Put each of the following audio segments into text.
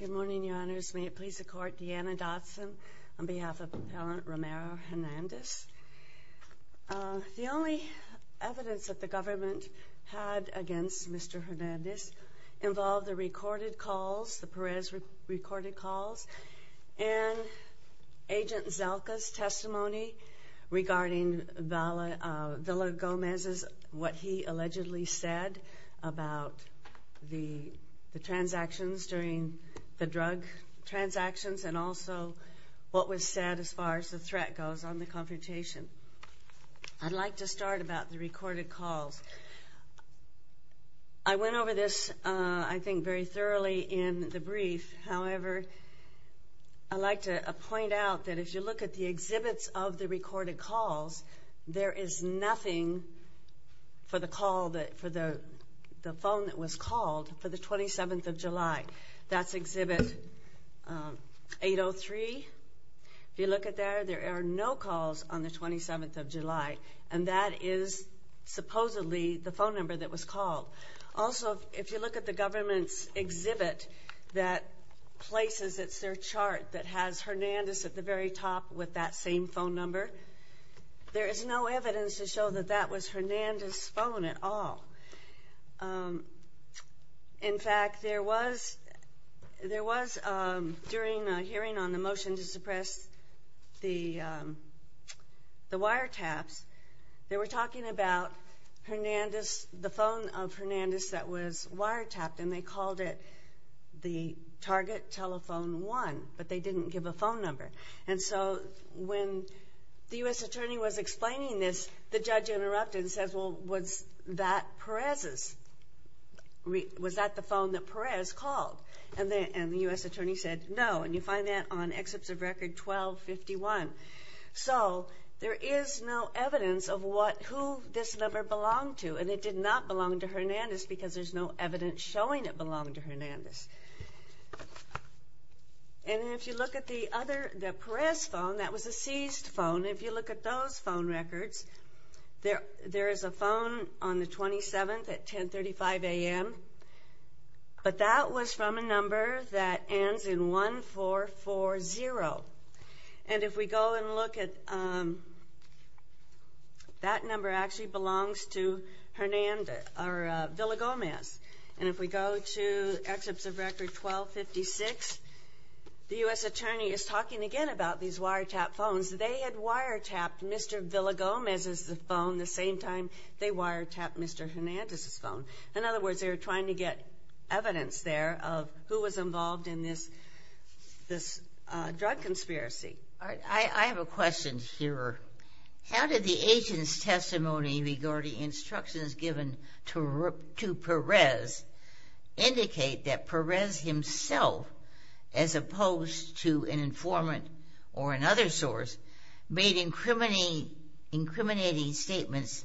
Good morning, Your Honors. May it please the Court, Deanna Dotson on behalf of Appellant Ramiro Hernandez. The only evidence that the government had against Mr. Hernandez involved the recorded calls, the Perez recorded calls, and Agent Zelka's testimony regarding Villa Gomez's, what he allegedly said about the transactions during the drug transactions and also what was said as far as the threat goes on the confrontation. I'd like to start about the recorded calls. I went over this, I think, very thoroughly in the brief. However, I'd like to point out that if you look at the exhibits of the recorded calls, there is nothing for the call that, for the phone that was called for the 27th of July. That's exhibit 803. If you look at there, there are no calls on the 27th of July, and that is supposedly the phone number that was called. Also, if you look at the government's exhibit that places, it's their chart that has Hernandez at the very top with that same phone number, there is no evidence to show that that was Hernandez's phone at all. In fact, there was, there was during a hearing on the motion to suppress the wiretaps, they were talking about Hernandez, the phone of Hernandez that was wiretapped, and they called it the target telephone 1, but they didn't give a phone number. And so when the U.S. attorney was explaining this, the judge interrupted and said, well, was that Perez's? Was that the phone that Perez called? And the U.S. attorney said, no, and you find that on exhibits of record 1251. So there is no evidence of what, who this number belonged to, and it did not show that it belonged to Hernandez. And if you look at the other, the Perez phone, that was a seized phone. If you look at those phone records, there is a phone on the 27th at 1035 a.m., but that was from a number that ends in 1440. And if we go and look at, that number actually belongs to Hernandez, or Villa-Gomez. And if we go to exhibits of record 1256, the U.S. attorney is talking again about these wiretapped phones. They had wiretapped Mr. Villa-Gomez's phone the same time they wiretapped Mr. Hernandez's phone. In other words, they were trying to get evidence there of who was involved in this, this drug conspiracy. I have a question here. How did the agent's testimony regarding instructions given to Perez indicate that Perez himself, as opposed to an informant or another source, made incriminating statements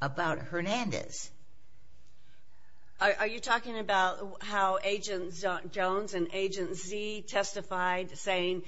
about Hernandez? Are you talking about how Agent Jones and Agent Z testified, saying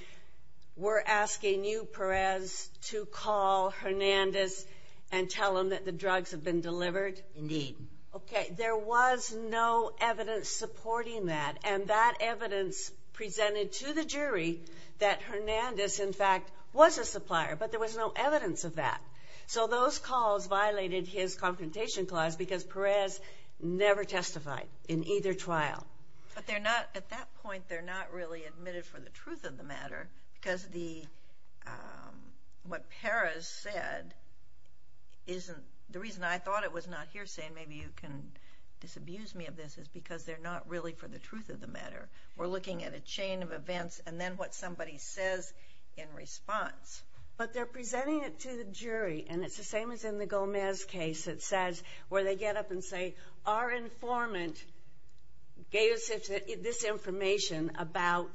we're asking you, Perez, to call Hernandez and tell him that the drugs have been delivered? Indeed. Okay. There was no evidence supporting that, and that evidence presented to the jury that Hernandez, in fact, was a supplier, but there was no evidence of that. So those calls violated his confrontation clause, because Perez never testified in either trial. But they're not, at that point, they're not really admitted for the truth of the matter, because the, what Perez said isn't, the reason I thought it was not hearsay, and maybe you can disabuse me of this, is because they're not really for the truth of the matter. We're looking at a chain of events, and then what somebody says in response. But they're presenting it to the jury, and it's the same as in the Gomez case, it says, where they get up and say, our informant gave us this information about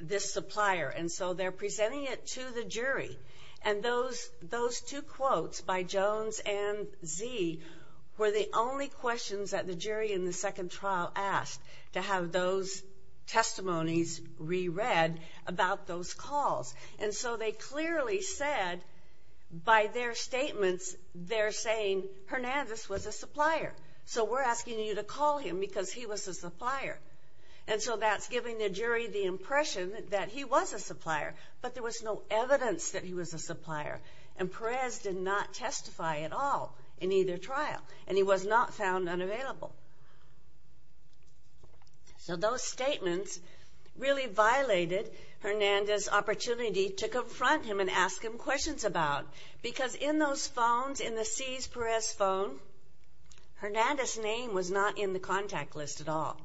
this supplier, and so they're presenting it to the jury. And those two quotes, by Jones and Z, were the only questions that the jury in the second trial asked, to have those testimonies re-read, about those calls. And so they clearly said, by their statements, they're saying, Hernandez was a supplier. So we're asking you to call him, because he was a supplier. And so that's giving the jury the impression that he was a supplier, but there was no evidence that he was a supplier. And Perez did not testify at all, in either trial, and he was not found unavailable. So those statements really violated Hernandez's opportunity to confront him and ask him questions about, because in those phones, in the C's Perez phone, Hernandez's name was not in the contact list at all.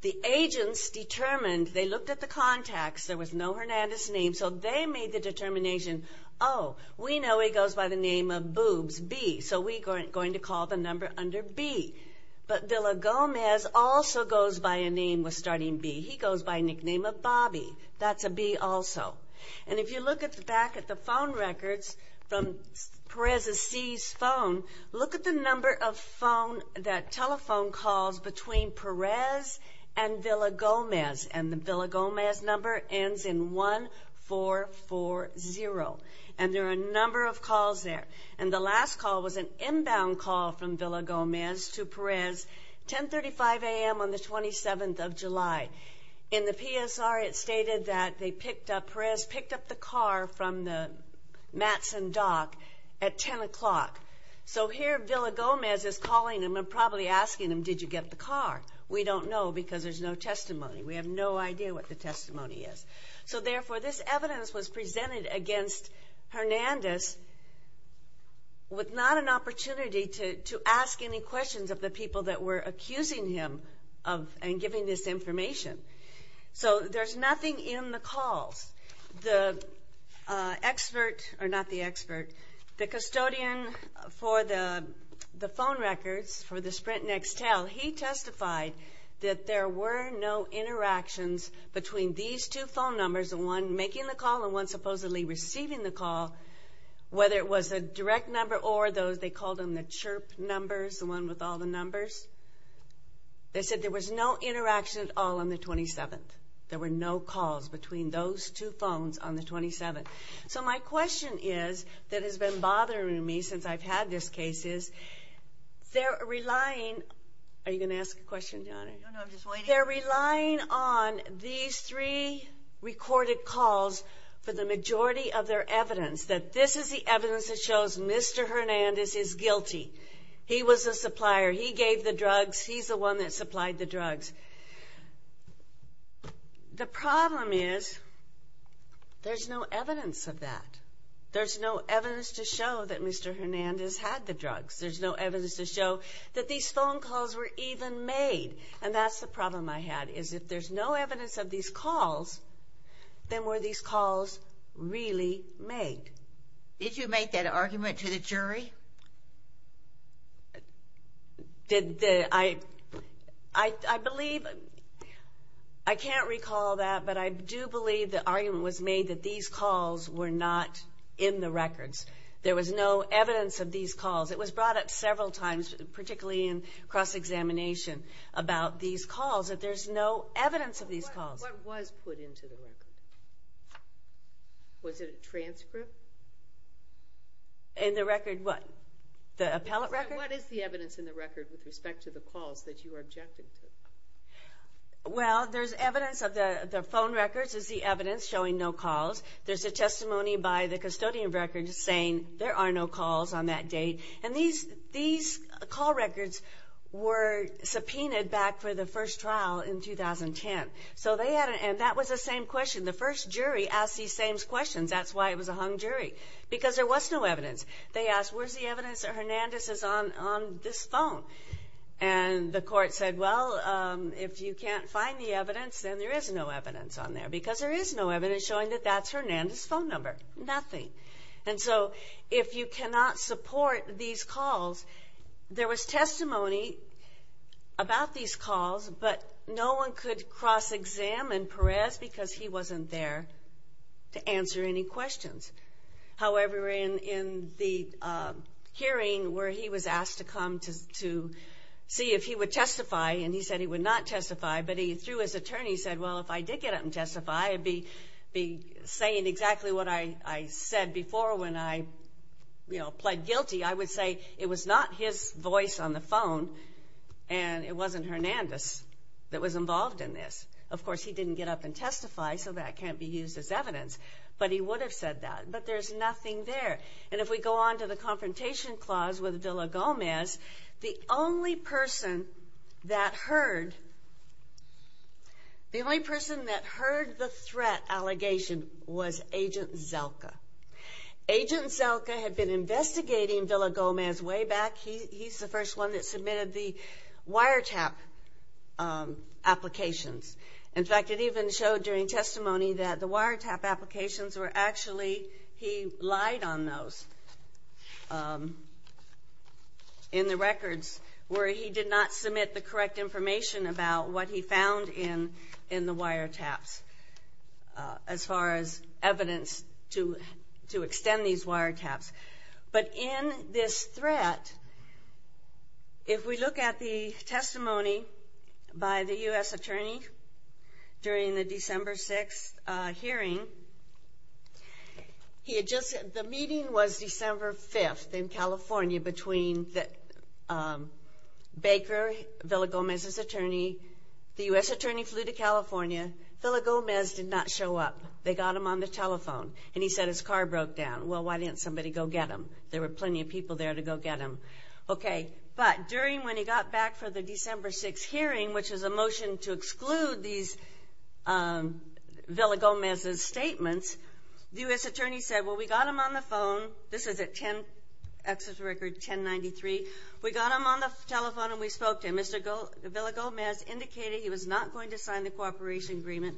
The agents determined, they looked at the contacts, there was no Hernandez name, so they made the determination, oh, we know he goes by the name of Boobs, B, so we're going to call the number under B. But Villa Gomez also goes by a name with starting B. He goes by a nickname of Bobby. That's a B also. And if you look back at the phone records from Perez's C's phone, look at the number of phone, that telephone calls between Perez and Villa Gomez. And the Villa Gomez number ends in 1440. And there are a number of calls there. And the last call was an inbound call from Villa Gomez to Perez, 1035 a.m. on the 27th of July. In the PSR, it stated that Perez picked up the car from the Mattson dock at 10 o'clock. So here Villa Gomez is calling him and probably asking him, did you get the car? We don't know, because there's no testimony. We have no idea what the testimony is. So therefore, this evidence was presented against Hernandez with not an opportunity to ask any questions of the people that were accusing him of and giving this information. So there's nothing in the calls. The expert, or not the expert, the custodian for the phone records for the Sprint Next Tell, he testified that there were no interactions between these two phone numbers, the one making the call and one supposedly receiving the call, whether it was a direct number or those, they called them the chirp numbers, the one with all the numbers. They said there was no interaction at all on the 27th. There were no calls between those two phones on the 27th. So my question is, that has been bothering me since I've had this case is, they're relying, are you going to ask a question, Donna? No, I'm just waiting. They're relying on these three recorded calls for the majority of their evidence that this is the evidence that shows Mr. Hernandez is guilty. He was a supplier. He gave the drugs. He's the one that supplied the drugs. The problem is, there's no evidence of that. There's no evidence to show that Mr. Hernandez had the drugs. There's no evidence to show that these phone calls were even made. And that's the problem I had, is if there's no evidence of these calls, then were these calls really made? Did you make that argument to the jury? Did the, I, I believe, I can't recall that, but I do believe the argument was made that these calls were not in the records. There was no evidence of these calls. It was brought up several times, particularly in cross-examination about these calls, that there's no evidence of these calls. What was put into the record? Was it a transcript? In the record, what? The appellate record? What is the evidence in the record with respect to the calls that you are objecting to? Well, there's evidence of the, the phone records is the evidence showing no calls. There's a testimony by the custodian records saying there are no calls on that date. And these, these call records were subpoenaed back for the first trial in 2010. So they had, and that was the same question. The first jury asked these same questions. That's why it was a hung jury, because there was no evidence. They asked, where's the evidence that Hernandez is on, on this phone? And the court said, well, if you can't find the evidence, then there is no evidence on there because there is no evidence showing that that's Hernandez' phone number, nothing. And so if you cannot support these calls, there was testimony about these calls, but no one could cross-examine Perez because he wasn't there to answer any questions. However, in, in the hearing where he was asked to come to, to see if he would testify, and he said he would not testify, but he threw his attorney, said, well, if I did get up and testify, I'd be, be saying exactly what I, I said before when I, you know, pled guilty. I would say it was not his voice on the phone, and it wasn't Hernandez that was involved in this. Of course, he didn't get up and testify, so that can't be used as evidence, but he would have said that, but there's nothing there. And if we go on to the confrontation clause with Villa Gomez, the only person that heard, the only person that heard the threat allegation was Agent Zelka. Agent Zelka had been investigating Villa Gomez way back. He, he's the first one that submitted the wiretap applications. In fact, it even showed during testimony that the wiretap applications were actually, he lied on those in the records where he did not submit the correct information about what he found in, in the wiretaps as far as evidence to, to extend these wiretaps. But in this threat, if we look at the testimony by the U.S. attorney during the December 6th hearing, he had just, the meeting was December 5th in California between the, the U.S. attorney flew to California. Villa Gomez did not show up. They got him on the telephone, and he said his car broke down. Well, why didn't somebody go get him? There were plenty of people there to go get him. Okay. But during, when he got back for the December 6th hearing, which was a motion to exclude these Villa Gomez's statements, the U.S. attorney said, well, we got him on the phone. This is at 10, access record 1093. We got him on the telephone, and we spoke to him. Mr. Villa Gomez indicated he was not going to sign the cooperation agreement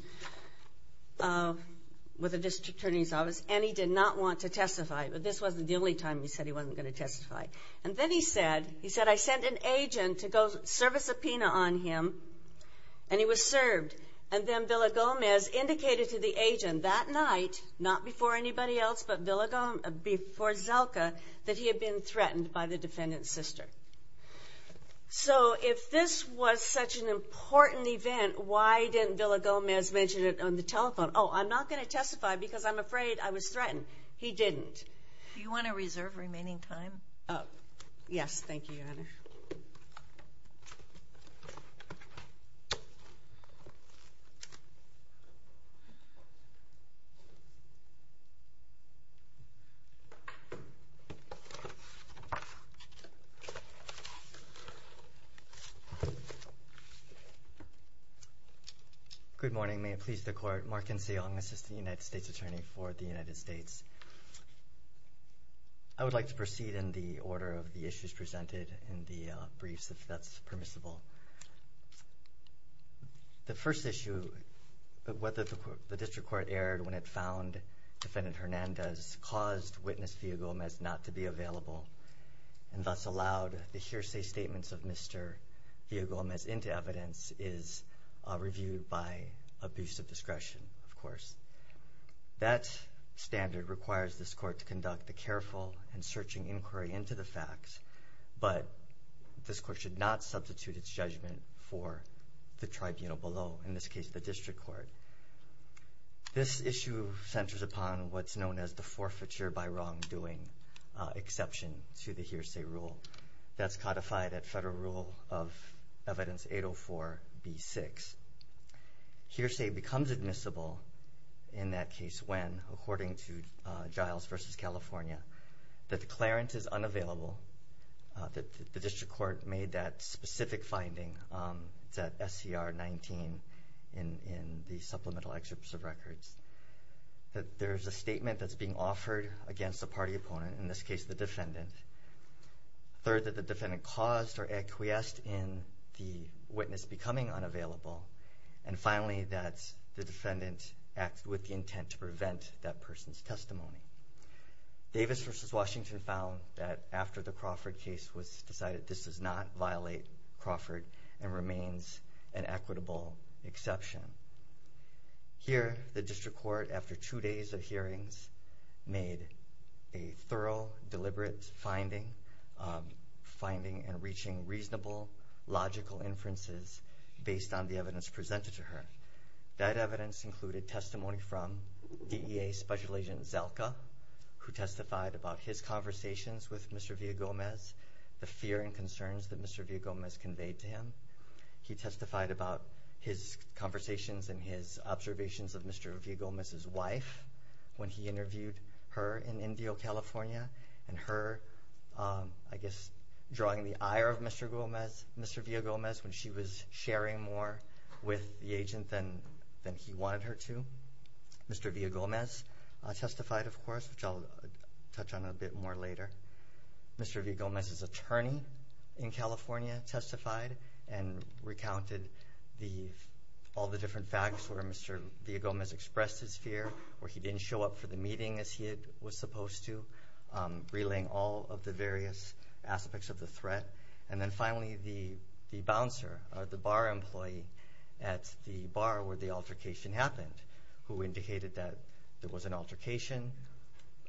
with the district attorney's office, and he did not want to testify. But this wasn't the only time he said he wasn't going to testify. And then he said, he said, I sent an agent to go serve a subpoena on him, and he was served. And then Villa Gomez indicated to the agent that night, not before anybody else, but Villa, before Zelka, that he had been threatened by the defendant's office. So if this was such an important event, why didn't Villa Gomez mention it on the telephone? Oh, I'm not going to testify, because I'm afraid I was threatened. He didn't. Do you want to reserve remaining time? Oh, yes. Thank you, Your Honor. Good morning. May it please the Court, Mark N. Seong, assistant United States attorney for the United States. I would like to proceed in the order of the issues presented in the briefs, if that's permissible. The first issue, whether the district court erred when it found Defendant Hernandez caused Witness Villa Gomez not to be available, and thus allowed the hearsay statements of Mr. Villa Gomez into evidence, is reviewed by abuse of discretion, of course. That standard requires this Court to conduct a careful and searching inquiry into the facts, but this Court should not substitute its judgment for the tribunal below, in this case, the district court. This issue centers upon what's known as the forfeiture by wrongdoing exception to the hearsay rule. That's codified at Federal Rule of Evidence 804 B6. Hearsay becomes admissible in that case when, according to Giles v. California, the declarant is unavailable. The district court made that specific finding. It's at SCR 19 in the supplemental excerpts of records that there's a statement that's being offered against the party opponent, in this case, the defendant. Third, that the defendant caused or acquiesced in the witness becoming unavailable, and finally, that the defendant acted with the intent to prevent that person's testimony. Davis v. Washington found that after the Crawford case was decided, this does not violate Crawford and remains an equitable exception. Here, the district court, after two days of hearings, made a thorough, deliberate finding, finding and reaching reasonable, logical inferences based on the evidence presented to her. That evidence included testimony from DEA Special Agent Zelka, who testified about his conversations with Mr. Villagomez, the fear and concerns that Mr. Villagomez conveyed to him. He testified about his conversations and his observations of Mr. Villagomez's wife when he interviewed her in Indio, California, and her, I guess, drawing the ire of Mr. Villagomez when she was sharing more with the agent than he wanted her to. Mr. Villagomez testified, of course, which I'll touch on a bit more later. Mr. Villagomez's attorney in California testified and recounted all the different facts where Mr. Villagomez expressed his fear, where he didn't show up for the meeting as he was supposed to, relaying all of the various aspects of the threat. And then finally, the bouncer, or the bar employee at the bar where the altercation happened, who indicated that there was an altercation,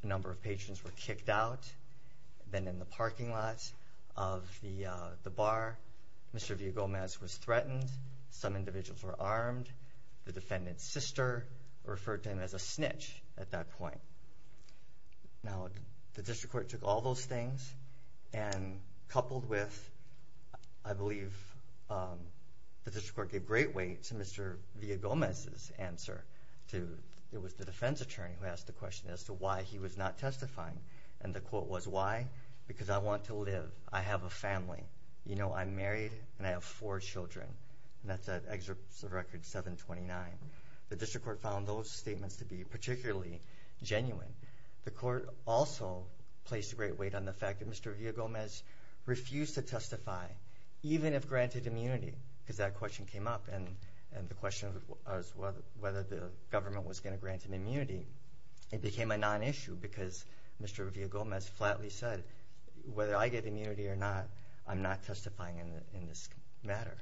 a number of patrons were kicked out. Then in the parking lot of the bar, Mr. Villagomez was threatened, some individuals were armed, the defendant's sister referred to him as a snitch at that point. Now, the district court took all those things and coupled with, I believe, the district court gave great weight to Mr. Villagomez's answer. It was the defense attorney who asked the question as to why he was not testifying. And the quote was, why? Because I want to live. I have a family. You know, I'm married and I have four children. And that's an excerpt of record 729. The district court found those statements to be particularly genuine. The court also placed a great weight on the fact that Mr. Villagomez refused to testify, even if granted immunity, because that question came up. And the question was whether the government was going to grant an immunity. It became a non-issue because Mr. Villagomez flatly said, whether I get immunity or not, I'm not testifying in this matter.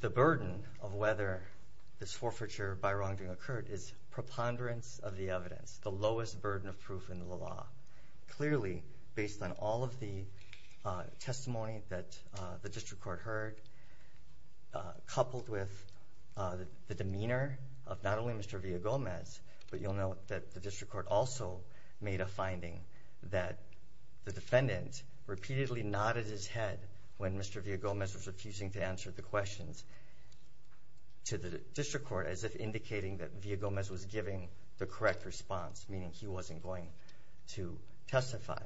The burden of whether this forfeiture by wrongdoing occurred is preponderance of the evidence, the lowest burden of proof in the law. Clearly, based on all of the testimony that the district court heard, coupled with the demeanor of not only Mr. Villagomez, but you'll note that the district court also made a finding that the defendant repeatedly nodded his head when Mr. Villagomez was refusing to answer the questions to the district court, as if indicating that Villagomez was giving the correct response, meaning he wasn't going to testify.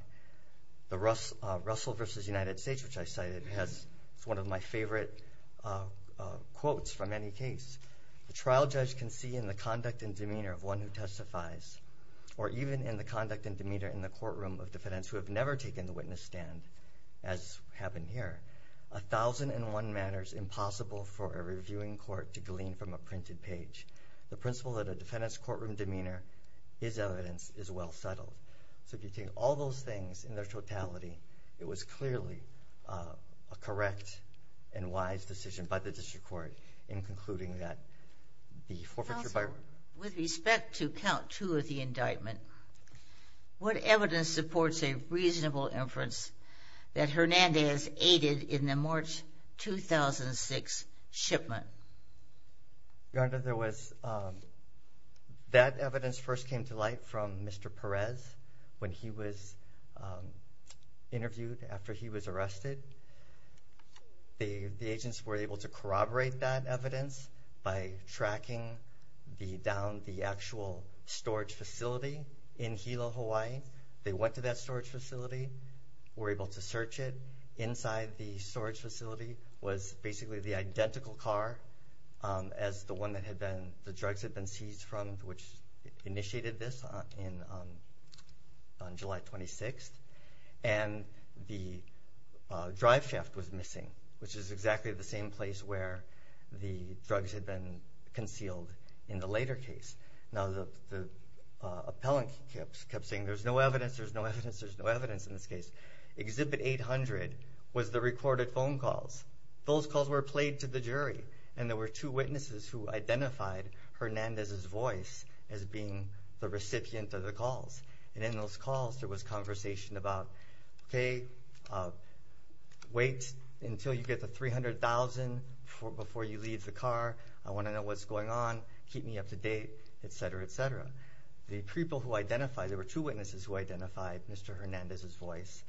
The Russell v. United States, which I cited, has one of my favorite quotes from any case. The trial judge can see in the conduct and demeanor of one who testifies, or even in the conduct and demeanor in the courtroom of defendants who have never taken the witness stand, as happened here, a thousand and one manners impossible for a reviewing court to glean from a printed page. The principle that a defendant's courtroom demeanor is evidence is well settled. So if you take all those things in their totality, it was clearly a correct and wise decision by the district court in concluding that the forfeiture by... Also, with respect to count two of the indictment, what evidence supports a reasonable inference that Hernandez aided in the March 2006 shipment? Your Honor, there was... That evidence first came to light from Mr. Perez when he was interviewed after he was arrested. The agents were able to corroborate that evidence by tracking down the actual storage facility in Hilo, Hawaii. They went to that storage facility, were able to search it. Inside the storage facility was basically the identical car as the one that the drugs had been seized from, which initiated this on July 26th. And the drive shaft was missing, which is exactly the same place where the drugs had been concealed in the later case. Now, the appellant kept saying, there's no evidence, there's no evidence, there's no evidence in this case. Exhibit 800 was the recorded phone calls. Those calls were played to the jury, and there were two witnesses who identified Hernandez's voice as being the recipient of the calls. And in those calls, there was conversation about, okay, wait until you get the 300,000 before you leave the car. I wanna know what's going on, keep me up to date, et cetera, et cetera. The people who identified, there were two witnesses who identified Mr. Hernandez's voice.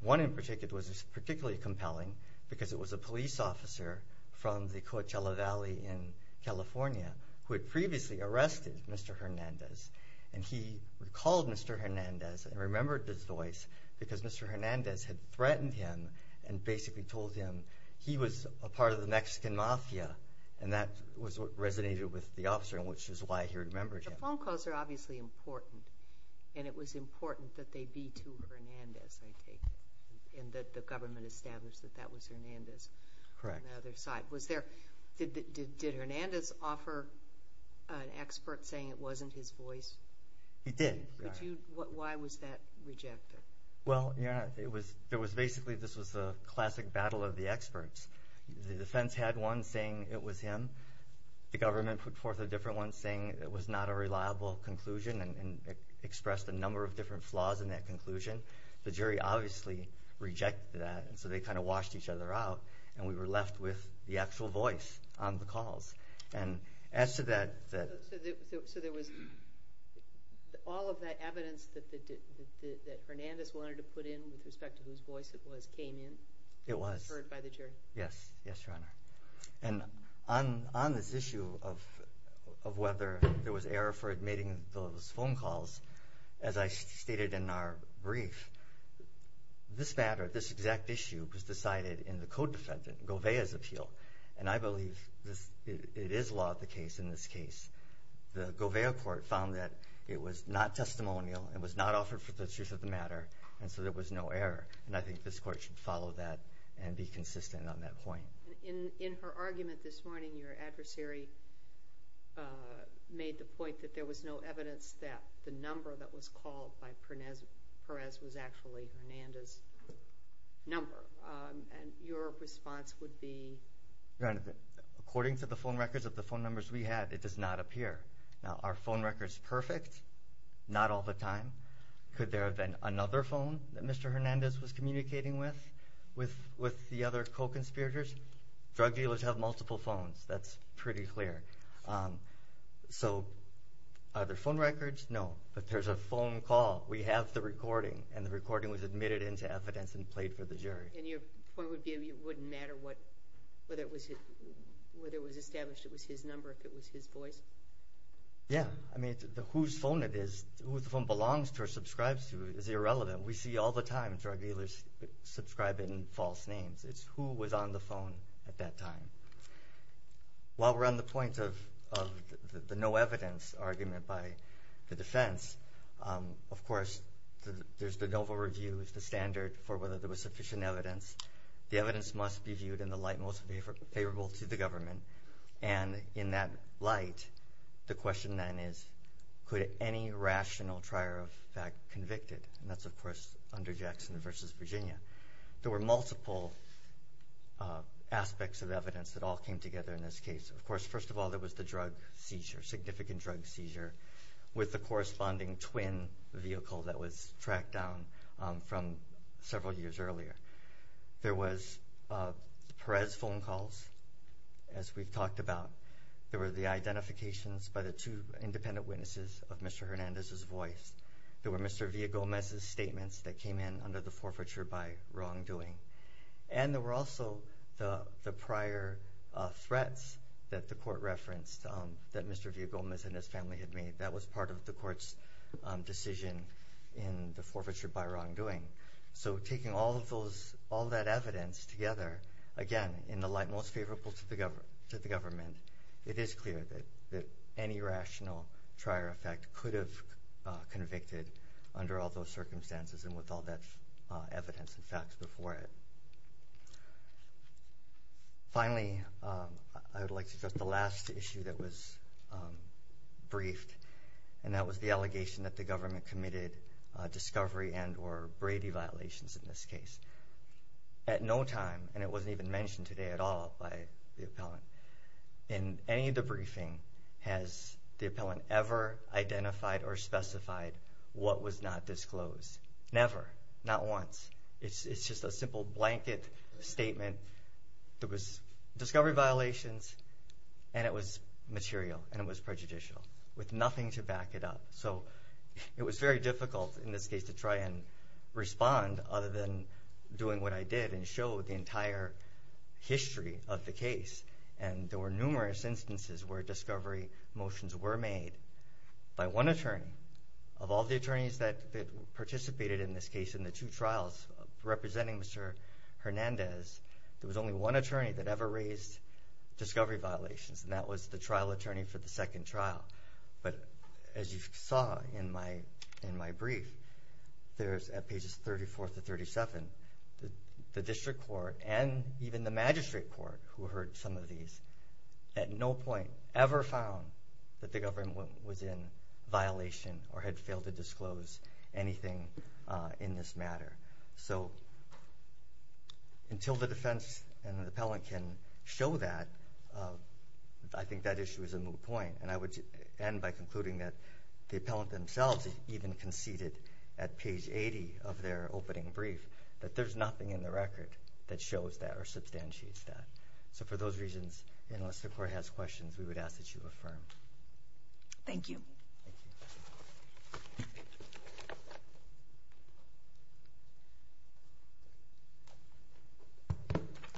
One in particular, it was particularly compelling because it was a police officer from the Coachella Valley in California, who had previously arrested Mr. Hernandez. And he recalled Mr. Hernandez and remembered his voice because Mr. Hernandez had threatened him and basically told him he was a part of the Mexican mafia, and that was what resonated with the officer, and which is why he remembered him. The phone calls are obviously important, and it was important that they be to Hernandez, I take it, and that the government established that that was Hernandez. Correct. On the other side. Did Hernandez offer an expert saying it wasn't his voice? He did. Why was that rejected? Well, yeah, it was basically, this was a classic battle of the experts. The defense had one saying it was him. The government put forth a different one saying it was not a reliable conclusion, and expressed a number of different flaws in that conclusion. The jury obviously rejected that, and so they kind of washed each other out, and we were left with the actual voice on the calls. And as to that... So there was all of that evidence that Hernandez wanted to put in respect to whose voice it was came in? It was. Heard by the jury? Yes, yes, Your Honor. And on this issue of whether there was error for admitting those phone calls, as I stated in our brief, this matter, this exact issue, was decided in the co-defendant, Govea's appeal, and I believe it is law of the case in this case. The Govea court found that it was not testimonial, it was not offered for the truth of the matter, and so there was no error. And I think this court should follow that and be consistent on that point. In her argument this morning, your adversary made the point that there was no evidence that the number that was called by Perez was actually Hernandez's number. And your response would be? Your Honor, according to the phone records of the phone numbers we had, it does not appear. Now, are phone records perfect? Not all the time. Could there have been another phone that Mr. Hernandez was communicating with, with the other co-conspirators? Drug dealers have multiple phones, that's pretty clear. So are there phone records? No. But there's a phone call, we have the recording, and the recording was admitted into evidence and played for the jury. And your point would be it wouldn't matter whether it was established it was his number, if it was his voice? Yeah. I mean, whose phone it is, who the phone belongs to or subscribes to is irrelevant. We see all the time drug dealers subscribe in false names. It's who was on the phone at that time. While we're on the point of the no evidence argument by the defense, of course, there's the Dover Review, the standard for whether there was sufficient evidence. The evidence must be viewed in the light most favorable to the government. And in that light, the question then is, could any rational trier of fact convicted? And that's, of course, under Jackson v. Virginia. There were multiple aspects of evidence that all came together in this case. Of course, first of all, there was the drug seizure, significant drug seizure, with the corresponding twin vehicle that was tracked down from several years earlier. There was Perez phone calls, as we've talked about. There were the identifications by the two independent witnesses of Mr. Hernandez's voice. There were Mr. Villagomez's statements that came in under the forfeiture by wrongdoing. And there were also the prior threats that the court referenced that Mr. Villagomez and his family had made. That was part of the court's decision in the forfeiture by wrongdoing. So taking all of that evidence together, again, in the light most favorable to the government, it is clear that any rational trier of fact could have convicted under all those circumstances and with all that evidence and facts before it. Finally, I would like to address the last issue that was the government committed discovery and or Brady violations in this case. At no time, and it wasn't even mentioned today at all by the appellant, in any of the briefing, has the appellant ever identified or specified what was not disclosed. Never. Not once. It's just a simple blanket statement. There was discovery violations, and it was material, and it was prejudicial with nothing to back it up. So it was very difficult in this case to try and respond other than doing what I did and show the entire history of the case. And there were numerous instances where discovery motions were made by one attorney of all the attorneys that participated in this case in the two trials representing Mr. Hernandez. There was only one attorney that ever raised discovery violations, and that was the trial attorney for the second trial. But as you saw in my brief, there's at pages 34 to 37, the district court and even the magistrate court who heard some of these at no point ever found that the government was in violation or had failed to disclose anything in this matter. So until the defense and the appellant can show that, I think that issue is a moot point. And I would end by concluding that the appellant themselves even conceded at page 80 of their opening brief that there's nothing in the record that shows that or substantiates that. So for those reasons, unless the court has questions, we would ask that you affirm. Thank you.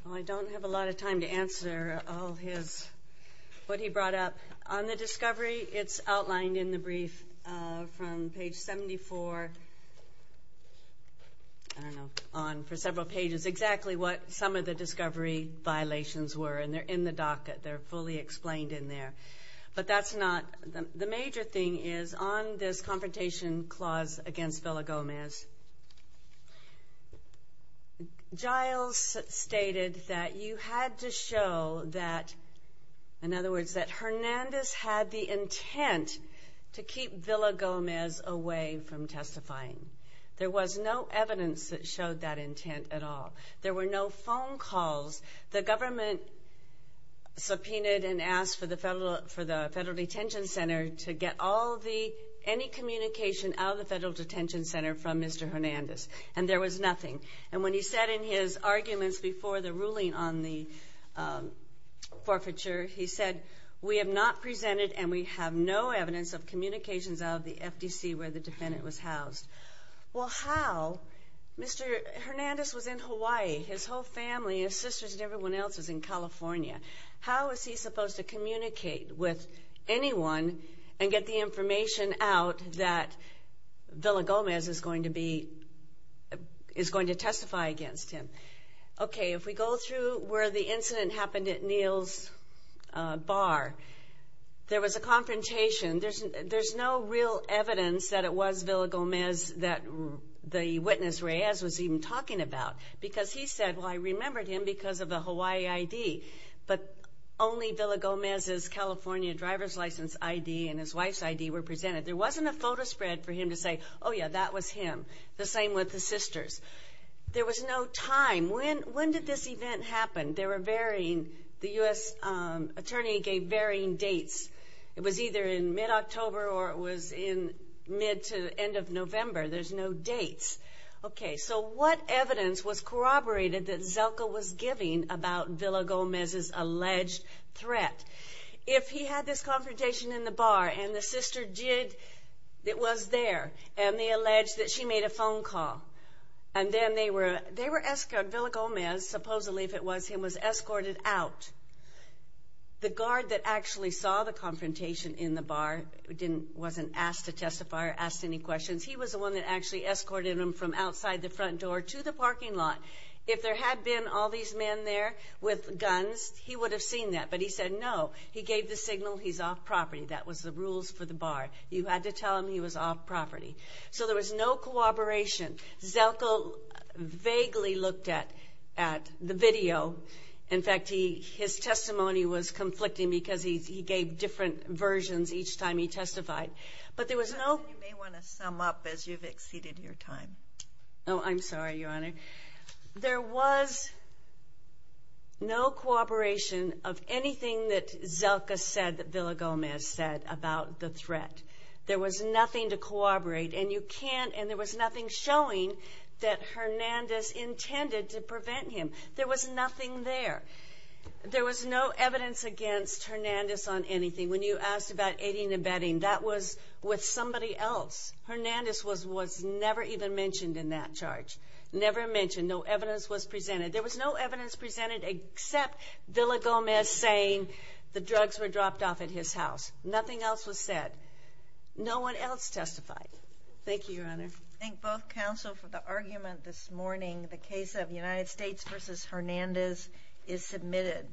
Well, I don't have a lot of time to answer all his, what he brought up. On the discovery, it's outlined in the brief from page 74, I don't know, on for several pages, exactly what some of the discovery violations were, and they're in the docket. They're fully explained in there. But that's not, the major thing is on this confrontation clause against Villa-Gomez, Giles stated that you had to show that, in other words, that Hernandez had the intent to keep Villa-Gomez away from testifying. There was no evidence that showed that intent at all. There were no phone calls. The government subpoenaed and asked for the Federal Detention Center to get all the, any communication out of the Federal Detention Center from Mr. Hernandez. And there was nothing. And when he said in his arguments before the ruling on the forfeiture, he said, we have not presented and we have no evidence of communications out of the FDC where the defendant was housed. Well, how? Mr. Hernandez was in Hawaii. His whole family, his sisters and everyone else was in California. How is he supposed to communicate with anyone and get the information out that Villa-Gomez is going to be, is going to testify against him? Okay, if we go through where the incident happened at Neal's Bar, there was a confrontation. There's no real evidence that it was Villa-Gomez that the witness Reyes was even talking about. Because he said, well, I remembered him because of the Hawaii ID. But only Villa-Gomez's California driver's license ID and his wife's ID were presented. There wasn't a photo spread for him to say, oh yeah, that was him. The same with the sisters. There was no time. When did this event happen? They were varying. The U.S. attorney gave varying dates. It was either in mid-October or it was in mid to end of November. There's no dates. Okay, so what evidence was corroborated that Zelka was giving about Villa-Gomez's alleged threat? If he had this confrontation in the bar and the sister did, it was there, and they alleged that she made a phone call, and then they were, they were asking if Villa-Gomez, supposedly if it was him, was escorted out. The guard that actually saw the confrontation in the bar didn't, wasn't asked to testify or asked any questions. He was the one that actually escorted him from outside the front door to the parking lot. If there had been all these men there with guns, he would have seen that. But he said no. He gave the signal he's off property. That was the rules for the bar. You had to tell him he was off property. So there was no corroboration. Zelka vaguely looked at, at the video. In fact, he, his testimony was conflicting because he gave different versions each time he testified. But there was no. You may want to sum up as you've exceeded your time. Oh, I'm sorry, Your Honor. There was no corroboration of anything that Zelka said that Villa-Gomez said about the threat. There was nothing showing that Hernandez intended to prevent him. There was nothing there. There was no evidence against Hernandez on anything. When you asked about aiding and abetting, that was with somebody else. Hernandez was, was never even mentioned in that charge. Never mentioned. No evidence was presented. There was no evidence presented except Villa-Gomez saying the drugs were dropped off at his house. Nothing else was said. No one else testified. Thank you, Your Honor. I thank both counsel for the argument this morning. The case of United States v. Hernandez is submitted.